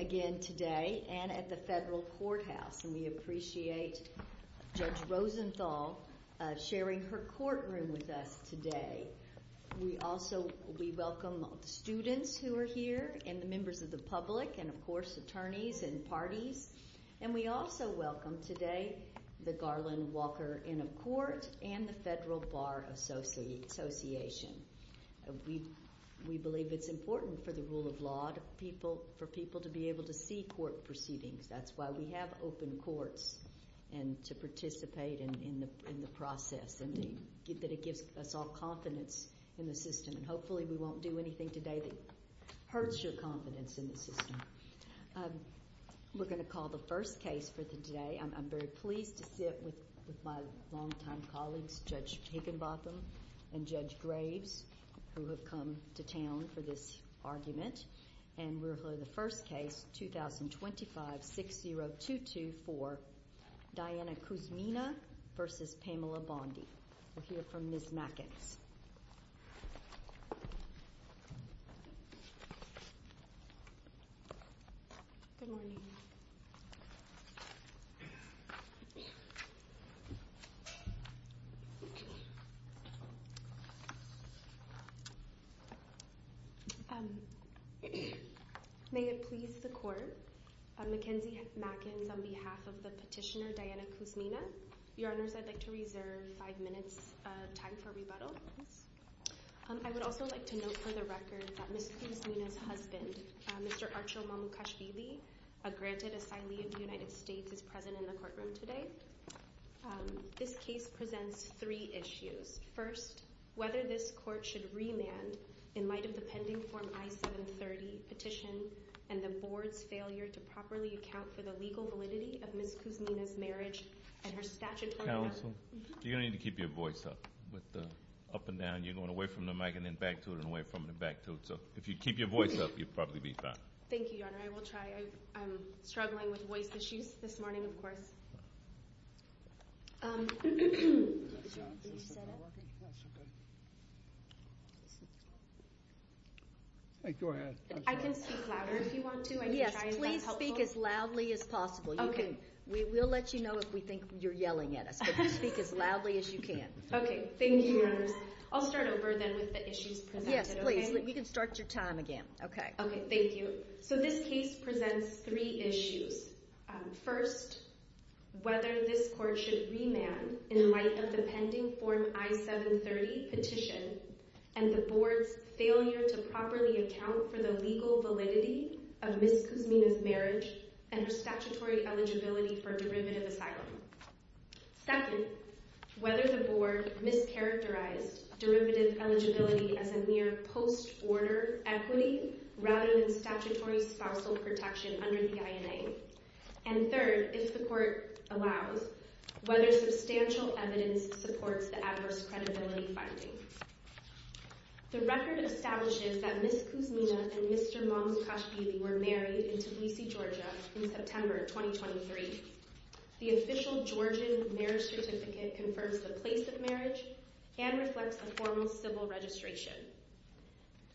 again today and at the federal courthouse and we appreciate Judge Rosenthal sharing her courtroom with us today. We also welcome the students who are here and the members of the public and of course attorneys and parties and we also welcome today the Garland Walker Inn of Court and the Federal Bar Association. We believe it's important for the rule of law to be able to see court proceedings. That's why we have open courts and to participate in the process and that it gives us all confidence in the system and hopefully we won't do anything today that hurts your confidence in the system. We're going to call the first case for today. I'm very pleased to sit with my long-time colleagues, Judge Higginbotham and Judge Graves who have come to town for this argument. And we'll hear the first case, 2025-6022 for Diana Kuzmina v. Pamela Bondi. We'll hear from Ms. Mackens. Good morning. May it please the court, Mackens on behalf of the petitioner Diana Kuzmina, Your Honors, I'd like to reserve five minutes of time for rebuttal. I would also like to note for the record that Ms. Kuzmina's husband, Mr. Archul Mamukashvili, a granted asylee of the United States, is present in the courtroom today. This case presents three issues. First, whether this court should remand in light of the pending Form I-730 petition and the board's failure to properly account for the legal validity of Ms. Kuzmina's marriage and her statutory marriage. Counsel, you're going to need to keep your voice up with the up and down. You're going away from the mic and then back to it and away from it and back to it. So if you keep your voice up, you'll probably be fine. Thank you, Your Honor. I will try. I'm struggling with voice issues this morning, of course. I can speak louder if you want to. Yes, please speak as loudly as possible. Okay. We will let you know if we think you're yelling at us, but speak as loudly as you can. Okay. Thank you, Your Honor. I'll start over then with the issues presented. Yes, please. We can start your time again. Okay. Okay. Thank you. So this case presents three issues. First, whether this court should remand in light of the pending Form I-730 petition and the board's failure to properly account for the legal validity of Ms. Kuzmina's marriage and her statutory eligibility for derivative asylum. Second, whether the board mischaracterized derivative eligibility as a mere post-order equity rather than statutory spousal protection under the INA. And third, if the court allows, whether substantial evidence supports the adverse credibility finding. The record establishes that Ms. Kuzmina and Mr. Mamsukashvili were married in Tbilisi, Georgia in September 2023. The official Georgian marriage certificate confirms the place of marriage and reflects a formal civil registration.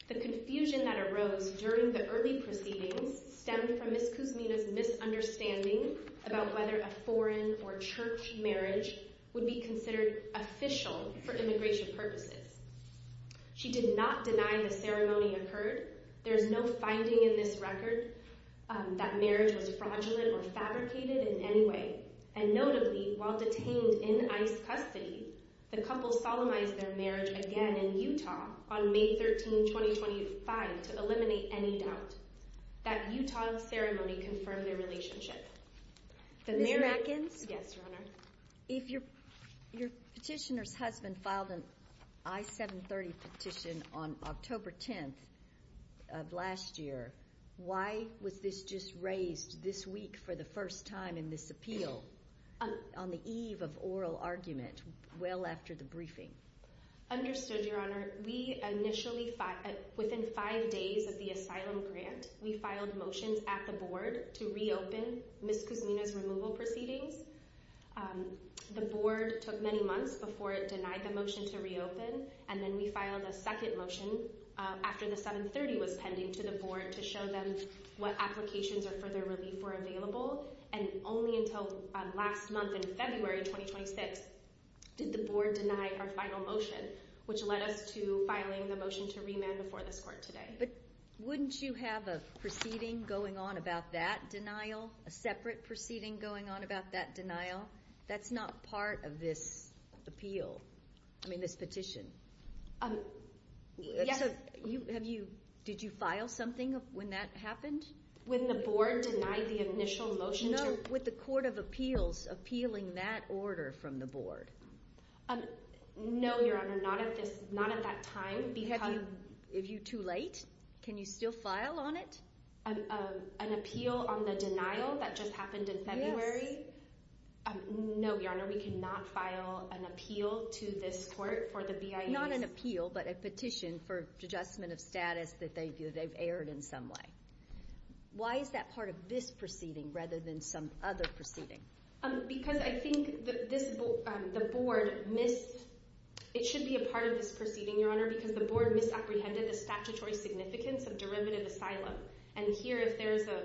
The confusion that arose during the early proceedings stemmed from Ms. Kuzmina's misunderstanding about whether a foreign or church marriage would be considered official for immigration purposes. She did not deny the ceremony occurred. There is no finding in this record that marriage was fraudulent or fabricated in any way. And notably, while detained in ICE custody, the couple solemnized their marriage again in Utah on May 13, 2025, to eliminate any doubt. That Utah ceremony confirmed their relationship. Ms. Matkins? Yes, Your Honor. If your petitioner's husband filed an I-730 petition on October 10th of last year, why was this just raised this week for the first time in this appeal on the eve of oral argument well after the briefing? Understood, Your Honor. We initially, within five days of the asylum grant, we filed motions at the board to reopen Ms. Kuzmina's removal proceedings. The board took many months before it denied the motion to reopen, and then we filed a second motion after the 730 was pending to the board to show them what applications or further relief were available. And only until last month in February 2026 did the board deny our final motion, which led us to filing the motion to remand before this court today. But wouldn't you have a proceeding going on about that denial, a separate proceeding going on about that denial? That's not part of this appeal, I mean, this petition. Yes. So have you, did you file something when that happened? When the board denied the initial motion to... No, with the court of appeals appealing that order from the board. No, Your Honor, not at this, not at that time, because... If you're too late, can you still file on it? An appeal on the denial that just happened in February? No, Your Honor, we cannot file an appeal to this court for the BIA's... Not an appeal, but a petition for adjustment of status that they've erred in some way. Why is that part of this proceeding rather than some other proceeding? Because I think the board missed, it should be a part of this proceeding, Your Honor, because the board misapprehended the statutory significance of derivative asylum. And here, if there is a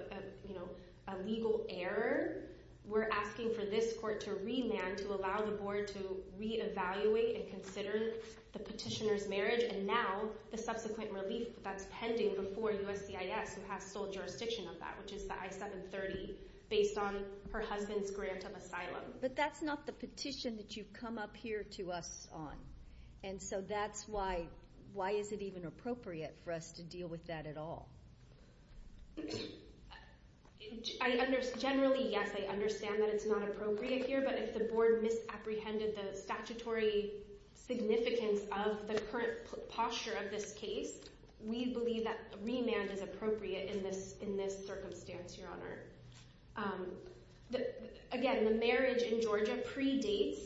legal error, we're asking for this court to remand to allow the board to reevaluate and consider the petitioner's marriage and now the subsequent relief that's pending before USCIS, who has sole jurisdiction of that, which is the I-730, based on her husband's grant of asylum. But that's not the petition that you've come up here to us on. And so that's why... Why is it even appropriate for us to deal with that at all? Generally, yes, I understand that it's not appropriate here, but if the board misapprehended the statutory significance of the current posture of this case, we believe that remand is appropriate in this circumstance, Your Honor. Again, the marriage in Georgia predates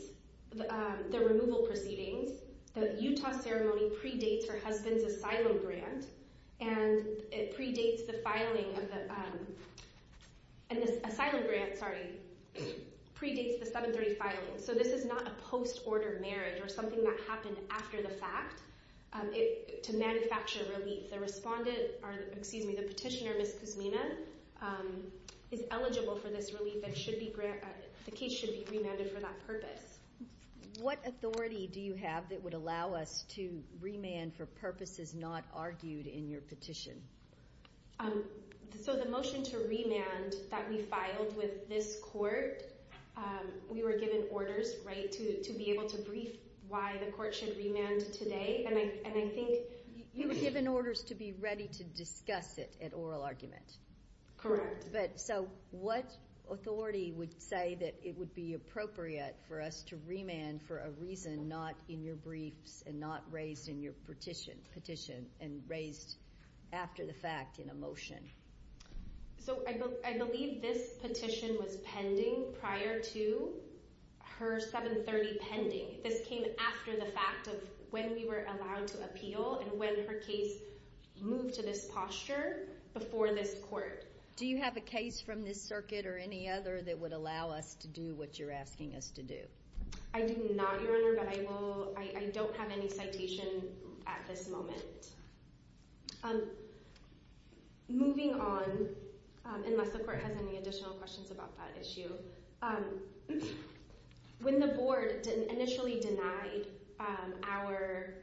the removal proceedings. The Utah ceremony predates her husband's asylum grant, and it predates the filing of the... And this asylum grant, sorry, predates the 730 filing. So this is not a post-order marriage or something that happened after the fact to manufacture relief. The petitioner, Ms. Kuzmina, is eligible for this relief, and the case should be remanded for that purpose. What authority do you have that would allow us to remand for purposes not argued in your petition? So the motion to remand that we filed with this court, we were given orders to be able to brief why the court should remand today. You were given orders to be ready to discuss it at oral argument. So what authority would say that it would be appropriate for us to remand for a reason not in your briefs and not raised in your petition and raised after the fact in a motion? So I believe this petition was pending prior to her 730 pending. This came after the fact of when we were allowed to appeal and when her case moved to this posture before this court. Do you have a case from this circuit or any other that would allow us to do what you're asking us to do? I do not, Your Honor, but I don't have any citation at this moment. Moving on, unless the court has any additional questions about that issue, when the board initially denied our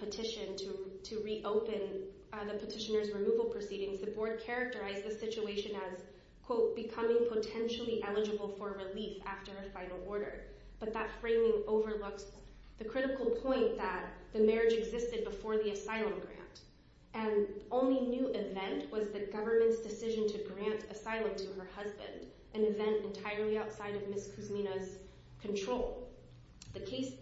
petition to reopen the petitioner's removal proceedings, the board characterized the situation as, quote, becoming potentially eligible for relief after a final order, but that framing overlooks the critical point that the marriage existed before the asylum grant and the only new event was the government's decision to grant asylum to her husband, an event entirely outside of Ms. Kuzmina's control. The case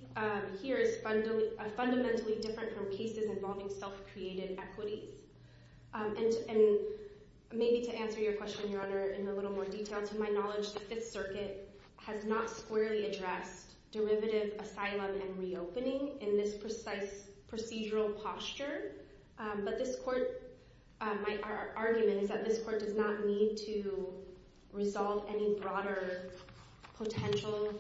here is fundamentally different from cases involving self-created equities. And maybe to answer your question, Your Honor, in a little more detail, to my knowledge, the Fifth Circuit has not squarely addressed derivative asylum and reopening in this precise procedural posture, but this court, my argument is that this court does not need to resolve any broader potential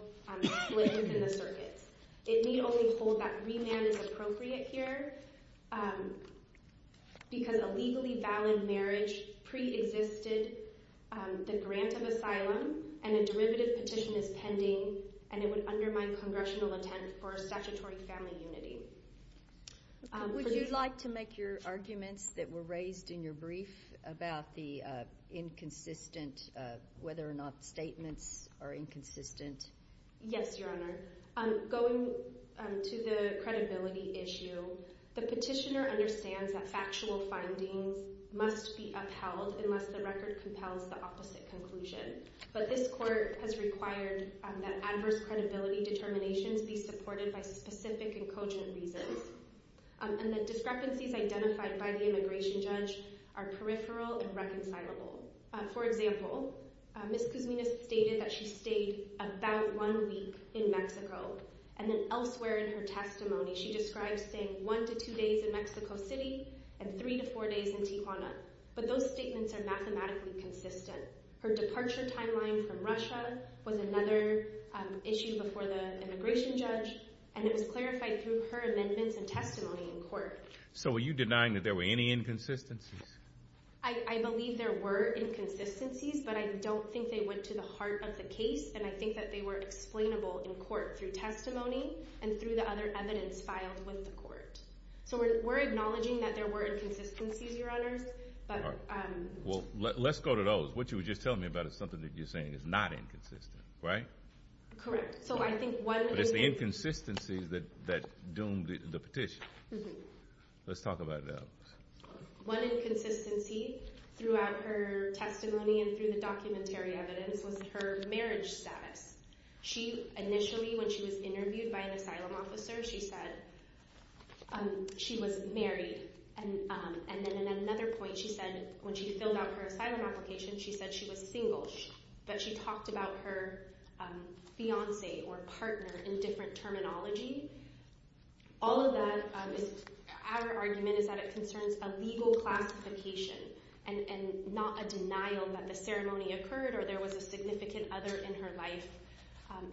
split within the circuit. It need only hold that remand is appropriate here because a legally valid marriage preexisted the grant of asylum and a derivative petition is pending and it would undermine congressional intent for statutory family unity. Would you like to make your arguments that were raised in your brief about the inconsistent, whether or not statements are inconsistent? Yes, Your Honor. Going to the credibility issue, the petitioner understands that factual findings must be upheld unless the record compels the opposite conclusion, but this court has required that adverse credibility determinations be supported by specific and cogent reasons and that discrepancies identified by the immigration judge are peripheral and reconcilable. For example, Ms. Kuzmina stated that she stayed about one week in Mexico and then elsewhere in her testimony she describes staying one to two days in Mexico City and three to four days in Tijuana, but those statements are mathematically consistent. Her departure timeline from Russia was another issue before the immigration judge and it was clarified through her amendments and testimony in court. So are you denying that there were any inconsistencies? I believe there were inconsistencies, but I don't think they went to the heart of the case and I think that they were explainable in court through testimony and through the other evidence filed with the court. So we're acknowledging that there were inconsistencies, Your Honors. Well, let's go to those. What you were just telling me about is something that you're saying is not inconsistent, right? Correct. But it's the inconsistencies that doomed the petition. Let's talk about those. One inconsistency throughout her testimony and through the documentary evidence was her marriage status. She initially, when she was interviewed by an asylum officer, she said she was married and then in another point she said when she filled out her asylum application she said she was single, but she talked about her fiancé or partner in different terminology. All of that, our argument is that it concerns a legal classification and not a denial that the ceremony occurred or there was a significant other in her life.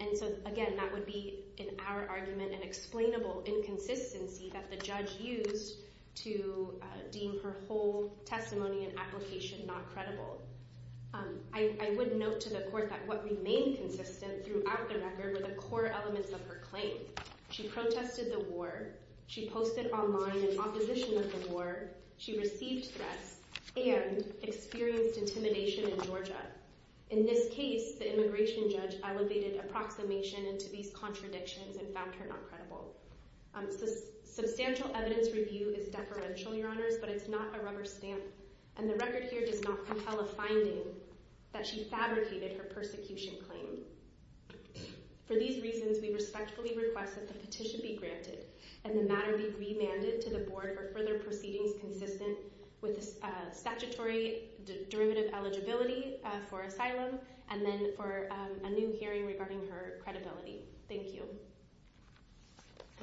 And so, again, that would be in our argument an explainable inconsistency that the judge used to deem her whole testimony and application not credible. I would note to the court that what remained consistent throughout the record were the core elements of her claim. She protested the war. She posted online in opposition of the war. She received threats and experienced intimidation in Georgia. In this case, the immigration judge elevated approximation into these contradictions and found her not credible. Substantial evidence review is deferential, your honors, but it's not a rubber stamp. And the record here does not compel a finding that she fabricated her persecution claim. For these reasons, we respectfully request that the petition be granted and the matter be remanded to the board for further proceedings consistent with the statutory derivative eligibility for asylum and then for a new hearing regarding her credibility. Thank you.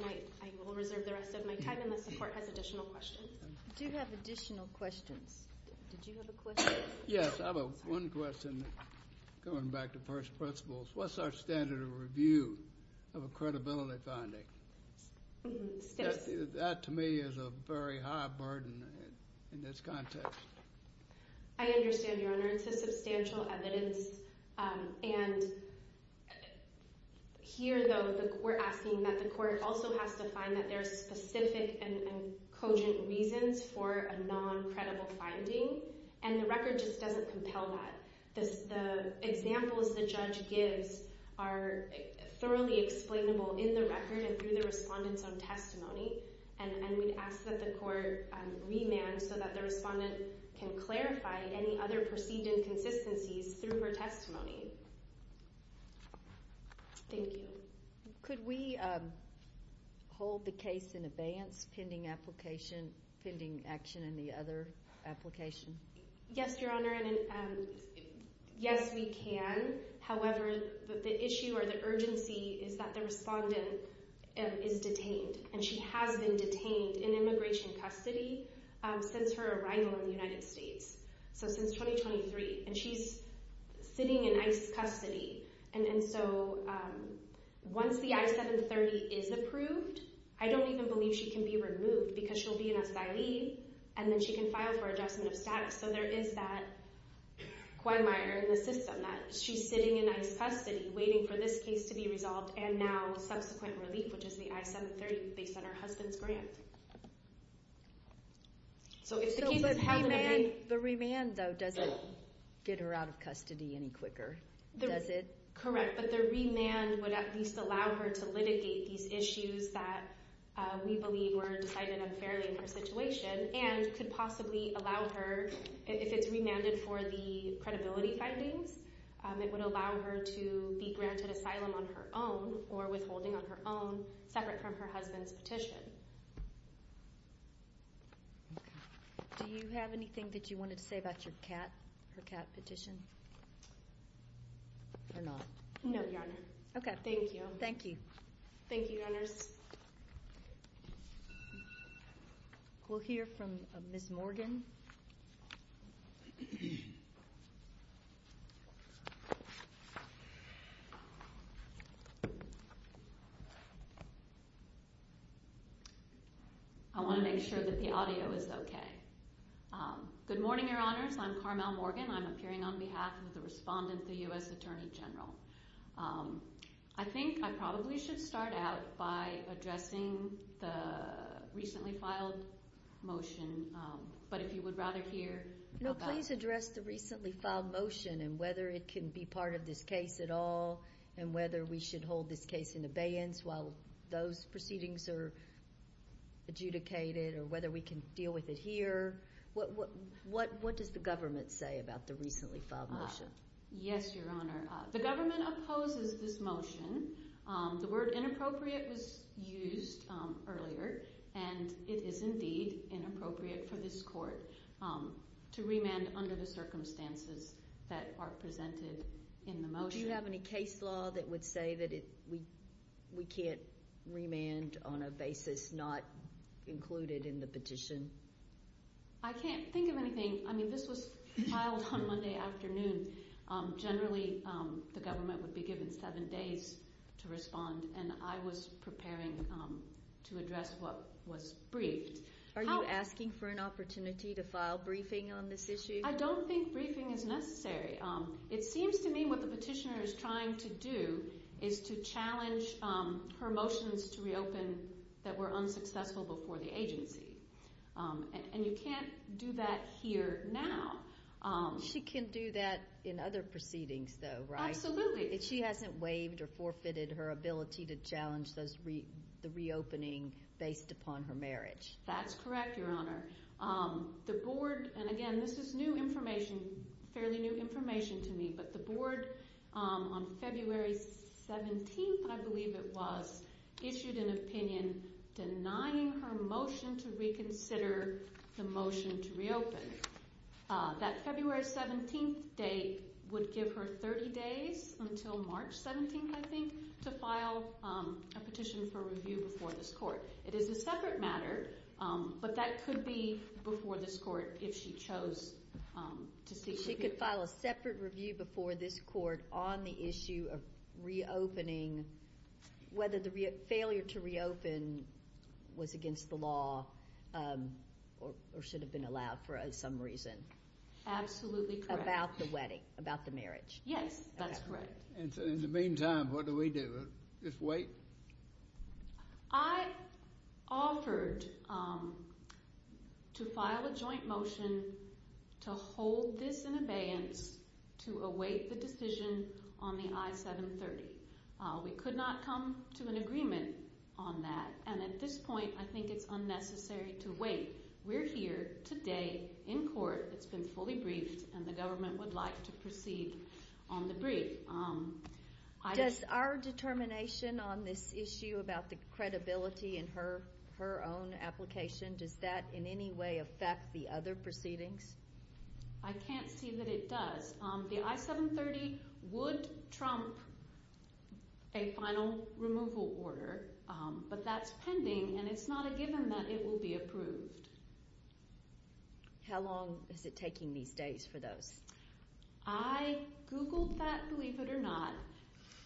I will reserve the rest of my time unless the court has additional questions. We do have additional questions. Did you have a question? Yes, I have one question going back to first principles. What's our standard of review of a credibility finding? That, to me, is a very high burden in this context. I understand, your honor. It's a substantial evidence. And here, though, we're asking that the court also has to find that there's specific and cogent reasons for a non-credible finding. And the record just doesn't compel that. The examples the judge gives are thoroughly explainable in the record and through the respondent's own testimony. And we'd ask that the court remand so that the respondent can clarify any other perceived inconsistencies through her testimony. Thank you. Could we hold the case in abeyance pending action in the other application? Yes, your honor. Yes, we can. However, the issue or the urgency is that the respondent is detained, and she has been detained in immigration custody since her arrival in the United States, so since 2023, and she's sitting in ICE custody. And so once the I-730 is approved, I don't even believe she can be removed because she'll be an asylee, and then she can file for adjustment of status. So there is that quid minor in the system, that she's sitting in ICE custody, waiting for this case to be resolved, and now subsequent relief, which is the I-730 based on her husband's grant. So if the case is held in abeyance. The remand, though, doesn't get her out of custody any quicker, does it? Correct, but the remand would at least allow her to litigate these issues that we believe were decided unfairly in her situation and could possibly allow her, if it's remanded for the credibility findings, it would allow her to be granted asylum on her own or withholding on her own separate from her husband's petition. Do you have anything that you wanted to say about her CAT petition or not? No, your honor. Okay. Thank you. Thank you. Thank you, your honors. We'll hear from Ms. Morgan. I want to make sure that the audio is okay. Good morning, your honors. I'm Carmel Morgan. I'm appearing on behalf of the respondent, the U.S. Attorney General. I think I probably should start out by addressing the recently filed motion, but if you would rather hear about it. No, please address the recently filed motion and whether it can be part of this case at all and whether we should hold this case in abeyance while those proceedings are adjudicated or whether we can deal with it here. What does the government say about the recently filed motion? Yes, your honor. The government opposes this motion. The word inappropriate was used earlier, and it is indeed inappropriate for this court to remand under the circumstances that are presented in the motion. Do you have any case law that would say that we can't remand on a basis not included in the petition? I can't think of anything. I mean, this was filed on Monday afternoon. Generally, the government would be given seven days to respond, and I was preparing to address what was briefed. Are you asking for an opportunity to file briefing on this issue? I don't think briefing is necessary. It seems to me what the petitioner is trying to do is to challenge her motions to reopen that were unsuccessful before the agency, and you can't do that here now. She can do that in other proceedings, though, right? Absolutely. She hasn't waived or forfeited her ability to challenge the reopening based upon her marriage. That's correct, your honor. The board, and again, this is new information, fairly new information to me, but the board on February 17th, I believe it was, issued an opinion denying her motion to reconsider the motion to reopen. That February 17th date would give her 30 days until March 17th, I think, to file a petition for review before this court. It is a separate matter, but that could be before this court if she chose to seek review. She could file a separate review before this court on the issue of reopening, whether the failure to reopen was against the law or should have been allowed for some reason. Absolutely correct. About the wedding, about the marriage. Yes, that's correct. In the meantime, what do we do? Just wait? I offered to file a joint motion to hold this in abeyance to await the decision on the I-730. We could not come to an agreement on that, and at this point I think it's unnecessary to wait. We're here today in court. It's been fully briefed, and the government would like to proceed on the brief. Does our determination on this issue about the credibility in her own application, does that in any way affect the other proceedings? I can't see that it does. The I-730 would trump a final removal order, but that's pending, and it's not a given that it will be approved. How long is it taking these days for those? I Googled that, believe it or not.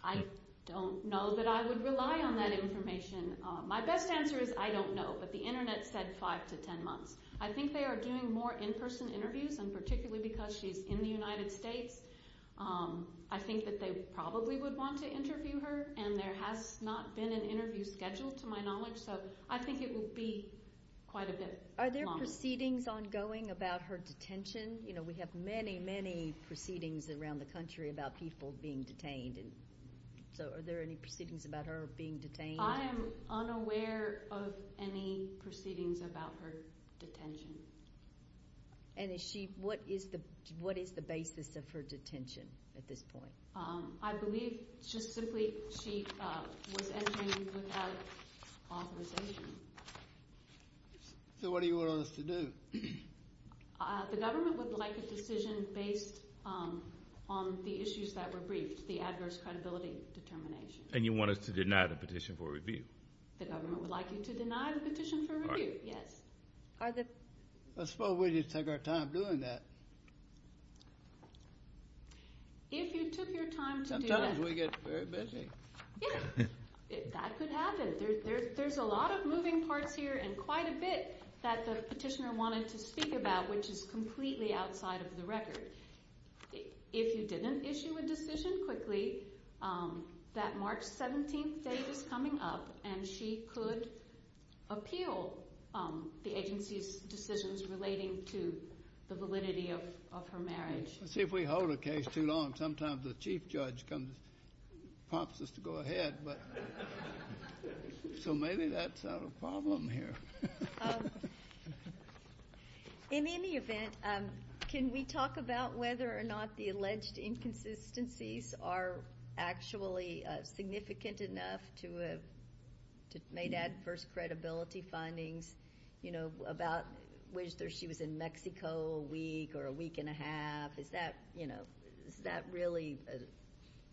I don't know that I would rely on that information. My best answer is I don't know, but the Internet said five to ten months. I think they are doing more in-person interviews, and particularly because she's in the United States, I think that they probably would want to interview her, and there has not been an interview scheduled to my knowledge, so I think it will be quite a bit longer. Are there proceedings ongoing about her detention? You know, we have many, many proceedings around the country about people being detained, so are there any proceedings about her being detained? I am unaware of any proceedings about her detention. And what is the basis of her detention at this point? I believe just simply she was entering without authorization. So what do you want us to do? The government would like a decision based on the issues that were briefed, the adverse credibility determination. And you want us to deny the petition for review? The government would like you to deny the petition for review, yes. I suppose we need to take our time doing that. If you took your time to do that. Sometimes we get very busy. That could happen. There's a lot of moving parts here and quite a bit that the petitioner wanted to speak about, which is completely outside of the record. If you didn't issue a decision quickly, that March 17th date is coming up, and she could appeal the agency's decisions relating to the validity of her marriage. Let's see if we hold a case too long. Sometimes the chief judge comes and prompts us to go ahead. So maybe that's not a problem here. In any event, can we talk about whether or not the alleged inconsistencies are actually significant enough to have made adverse credibility findings, you know, about whether she was in Mexico a week or a week and a half? Is that really a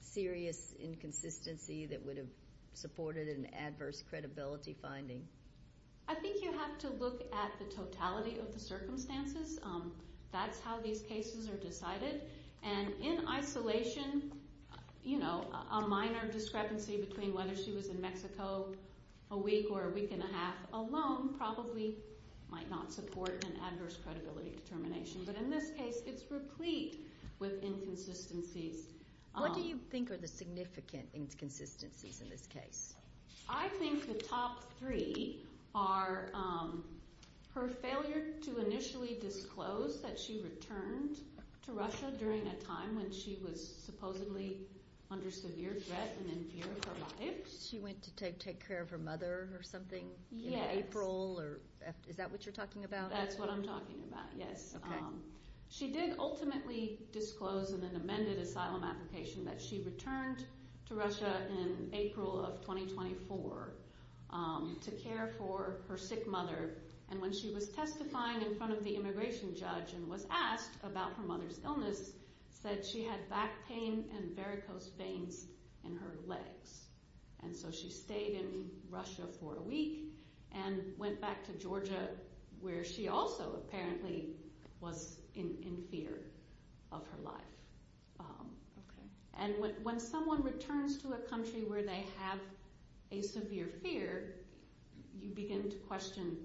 serious inconsistency that would have supported an adverse credibility finding? I think you have to look at the totality of the circumstances. That's how these cases are decided. And in isolation, you know, a minor discrepancy between whether she was in Mexico a week or a week and a half alone probably might not support an adverse credibility determination. But in this case, it's replete with inconsistencies. What do you think are the significant inconsistencies in this case? I think the top three are her failure to initially disclose that she returned to Russia during a time when she was supposedly under severe threat and in fear of her life. She went to take care of her mother or something in April? Is that what you're talking about? That's what I'm talking about, yes. She did ultimately disclose in an amended asylum application that she returned to Russia in April of 2024 to care for her sick mother. And when she was testifying in front of the immigration judge and was asked about her mother's illness, said she had back pain and varicose veins in her legs. And so she stayed in Russia for a week and went back to Georgia where she also apparently was in fear of her life. And when someone returns to a country where they have a severe fear, you begin to question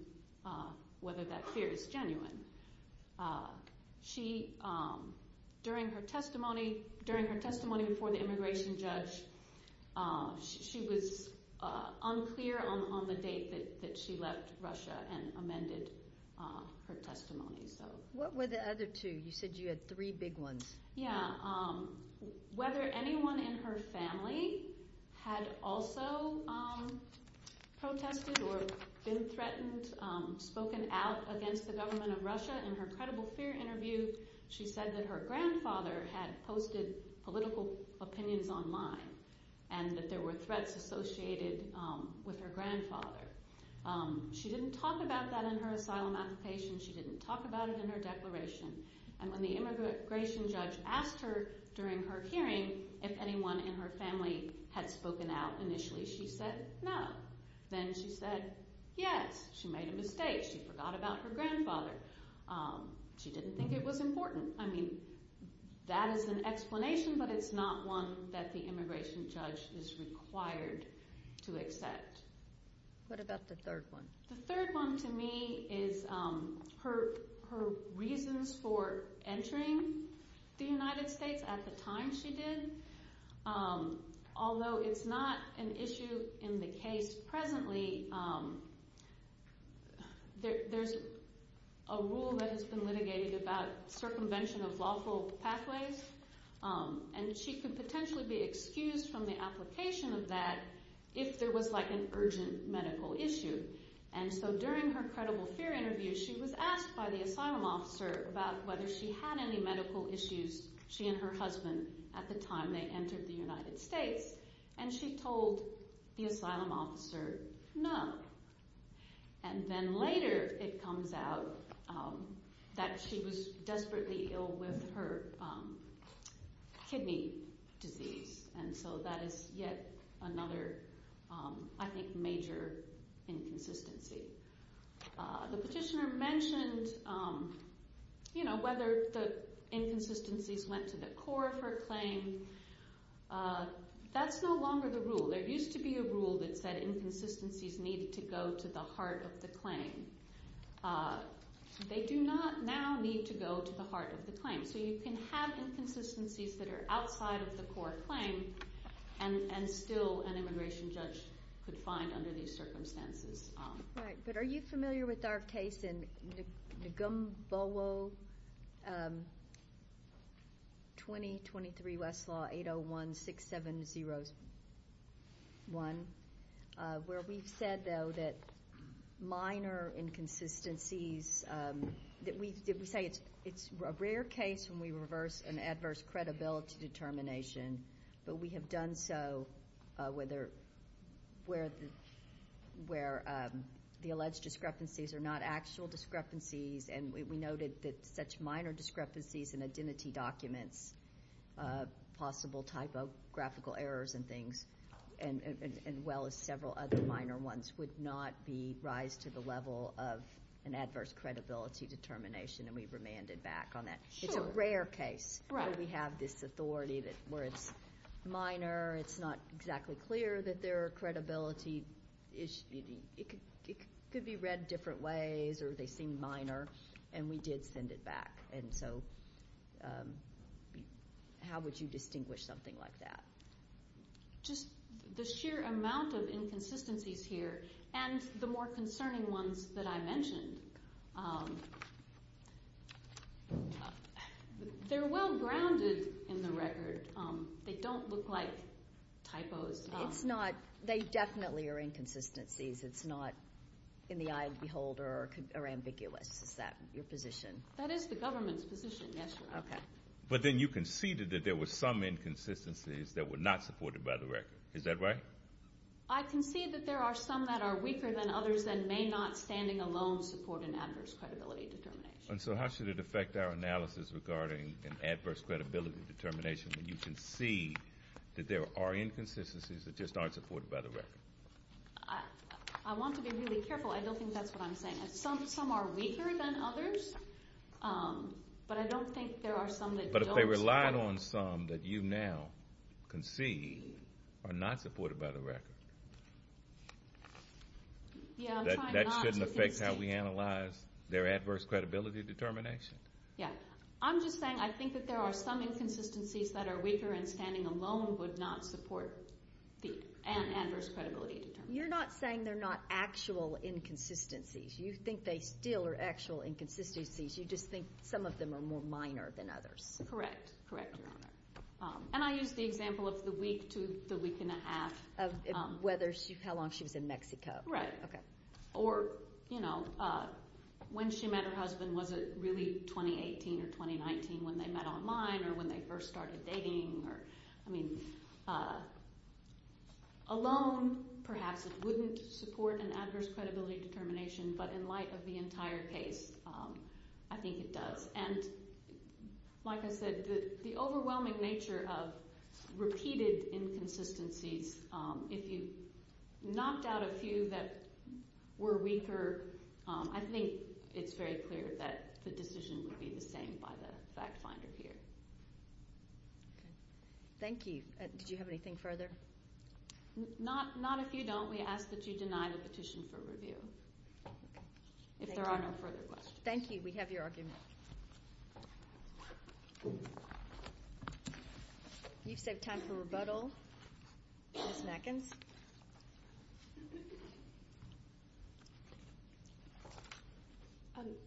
whether that fear is genuine. During her testimony before the immigration judge, she was unclear on the date that she left Russia and amended her testimony. What were the other two? You said you had three big ones. Yeah. Whether anyone in her family had also protested or been threatened, or at least spoken out against the government of Russia. In her credible fear interview, she said that her grandfather had posted political opinions online and that there were threats associated with her grandfather. She didn't talk about that in her asylum application. She didn't talk about it in her declaration. And when the immigration judge asked her during her hearing if anyone in her family had spoken out initially, she said no. Then she said yes. She made a mistake. She forgot about her grandfather. She didn't think it was important. I mean, that is an explanation, but it's not one that the immigration judge is required to accept. What about the third one? The third one to me is her reasons for entering the United States at the time she did. Although it's not an issue in the case presently, there's a rule that has been litigated about circumvention of lawful pathways, and she could potentially be excused from the application of that if there was an urgent medical issue. And so during her credible fear interview, she was asked by the asylum officer about whether she had any medical issues, she and her husband, at the time they entered the United States, and she told the asylum officer no. And then later it comes out that she was desperately ill with her kidney disease, and so that is yet another, I think, major inconsistency. The petitioner mentioned whether the inconsistencies went to the core of her claim. That's no longer the rule. There used to be a rule that said inconsistencies needed to go to the heart of the claim. They do not now need to go to the heart of the claim. So you can have inconsistencies that are outside of the core claim and still an immigration judge could find under these circumstances. Right. But are you familiar with our case in Ngambolo 20-23 Westlaw 801-6701, where we've said, though, that minor inconsistencies that we say it's a rare case when we reverse an adverse credibility determination, but we have done so where the alleged discrepancies are not actual discrepancies, and we noted that such minor discrepancies in identity documents, possible typographical errors and things, as well as several other minor ones would not rise to the level of an adverse credibility determination, and we've remanded back on that. Sure. It's a rare case where we have this authority where it's minor, it's not exactly clear that there are credibility issues. It could be read different ways or they seem minor, and we did send it back. And so how would you distinguish something like that? Just the sheer amount of inconsistencies here and the more concerning ones that I mentioned. They're well grounded in the record. They don't look like typos. It's not. They definitely are inconsistencies. It's not in the eye of the beholder or ambiguous. Is that your position? That is the government's position, yes, Your Honor. Okay. But then you conceded that there were some inconsistencies that were not supported by the record. Is that right? I conceded that there are some that are weaker than others and may not standing alone support an adverse credibility determination. And so how should it affect our analysis regarding an adverse credibility determination when you concede that there are inconsistencies that just aren't supported by the record? I want to be really careful. I don't think that's what I'm saying. Some are weaker than others, but I don't think there are some that don't support. But if they relied on some that you now concede are not supported by the record, that shouldn't affect how we analyze their adverse credibility determination? Yeah. I'm just saying I think that there are some inconsistencies that are weaker and standing alone would not support an adverse credibility determination. You're not saying they're not actual inconsistencies. You think they still are actual inconsistencies. You just think some of them are more minor than others. Correct, Your Honor. And I used the example of the week to the week and a half. Whether how long she was in Mexico. Right. Okay. Or, you know, when she met her husband, was it really 2018 or 2019 when they met online or when they first started dating? I mean, alone perhaps it wouldn't support an adverse credibility determination, but in light of the entire case, I think it does. And like I said, the overwhelming nature of repeated inconsistencies, if you knocked out a few that were weaker, I think it's very clear that the decision would be the same by the fact finder here. Okay. Thank you. Did you have anything further? Not if you don't. We ask that you deny the petition for review. Okay. If there are no further questions. Thank you. We have your argument. We've saved time for rebuttal. Ms. Matkins.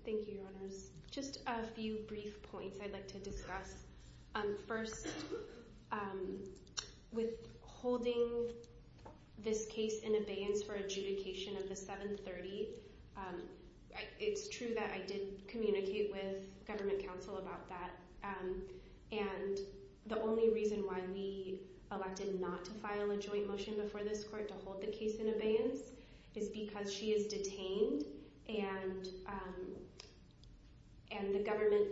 Thank you, Your Honors. Just a few brief points I'd like to discuss. First, with holding this case in abeyance for adjudication of the 730, it's true that I did communicate with government counsel about that. And the only reason why we elected not to file a joint motion before this court to hold the case in abeyance is because she is detained and the government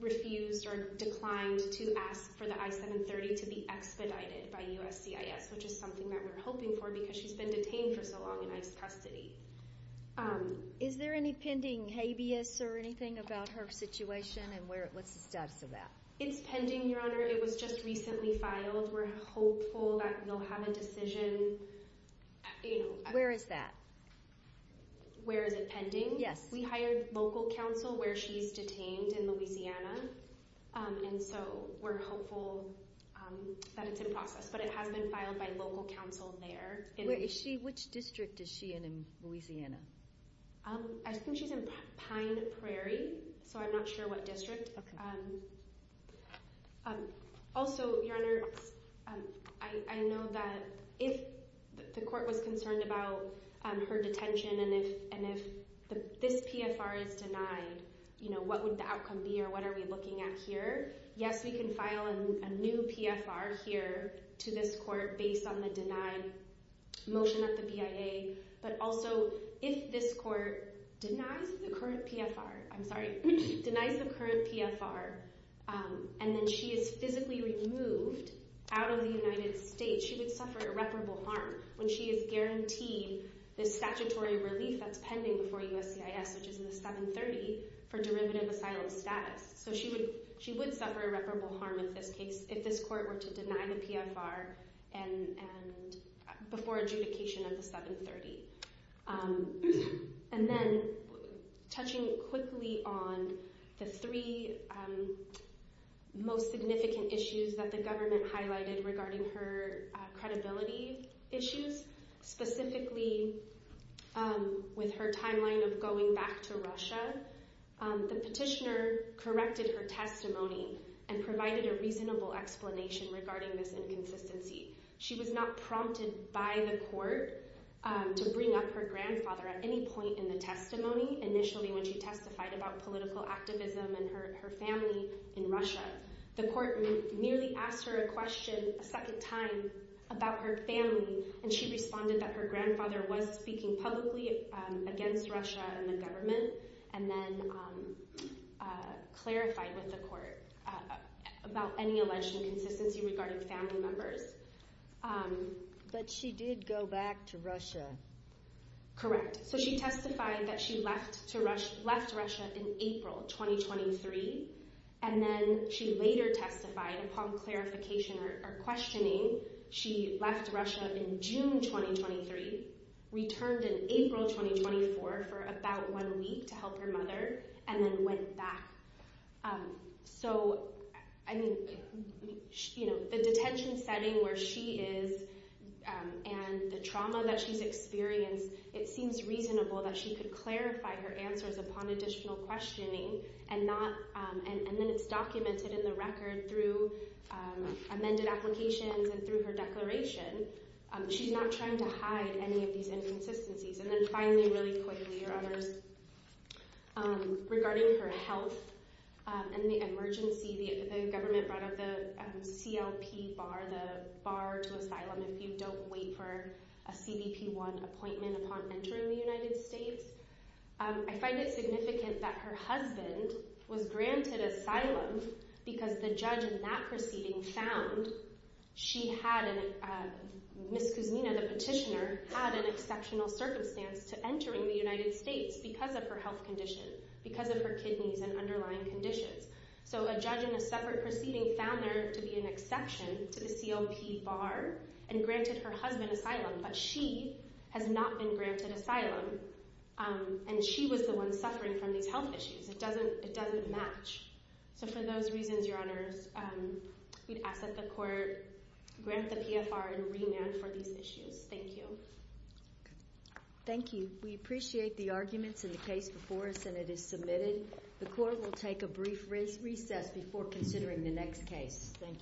refused or declined to ask for the I-730 to be expedited by USCIS, which is something that we're hoping for because she's been detained for so long in ICE custody. Is there any pending habeas or anything about her situation and what's the status of that? It's pending, Your Honor. It was just recently filed. We're hopeful that we'll have a decision. Where is that? Where is it pending? Yes. We hired local counsel where she's detained in Louisiana, and so we're hopeful that it's in process. But it has been filed by local counsel there. Which district is she in in Louisiana? I think she's in Pine Prairie, so I'm not sure what district. Also, Your Honor, I know that if the court was concerned about her detention and if this PFR is denied, what would the outcome be or what are we looking at here? Yes, we can file a new PFR here to this court based on the motion at the BIA, but also if this court denies the current PFR and then she is physically removed out of the United States, she would suffer irreparable harm when she is guaranteed the statutory relief that's pending before USCIS, which is in the 730, for derivative asylum status. So she would suffer irreparable harm in this case if this court were to deny the PFR before adjudication of the 730. And then, touching quickly on the three most significant issues that the government highlighted regarding her credibility issues, specifically with her timeline of going back to Russia, the petitioner corrected her testimony and provided a reasonable explanation regarding this inconsistency. She was not prompted by the court to bring up her grandfather at any point in the testimony, initially when she testified about political activism and her family in Russia. The court merely asked her a question a second time about her family, and she responded that her grandfather was speaking publicly against Russia and the government and then clarified with the court about any alleged inconsistency regarding family members. But she did go back to Russia. Correct. So she testified that she left Russia in April 2023, and then she later testified, upon clarification or questioning, she left Russia in June 2023, returned in April 2024 for about one week to help her mother, and then went back. So, I mean, you know, the detention setting where she is and the trauma that she's experienced, it seems reasonable that she could clarify her answers upon additional questioning, and then it's documented in the record through amended applications and through her declaration. She's not trying to hide any of these inconsistencies. And then finally, really quickly, regarding her health and the emergency, the government brought up the CLP bar, the bar to asylum, if you don't wait for a CBP-1 appointment upon entering the United States. I find it significant that her husband was granted asylum because the judge in that proceeding found she had, Ms. Kuzmina, the petitioner, had an exceptional circumstance to entering the United States because of her health condition, because of her kidneys and underlying conditions. So a judge in a separate proceeding found her to be an exception to the CLP bar and granted her husband asylum, but she has not been granted asylum, and she was the one suffering from these health issues. It doesn't match. So for those reasons, Your Honors, we'd ask that the court grant the PFR and remand for these issues. Thank you. Thank you. We appreciate the arguments in the case before us, and it is submitted. The court will take a brief recess before considering the next case. Thank you.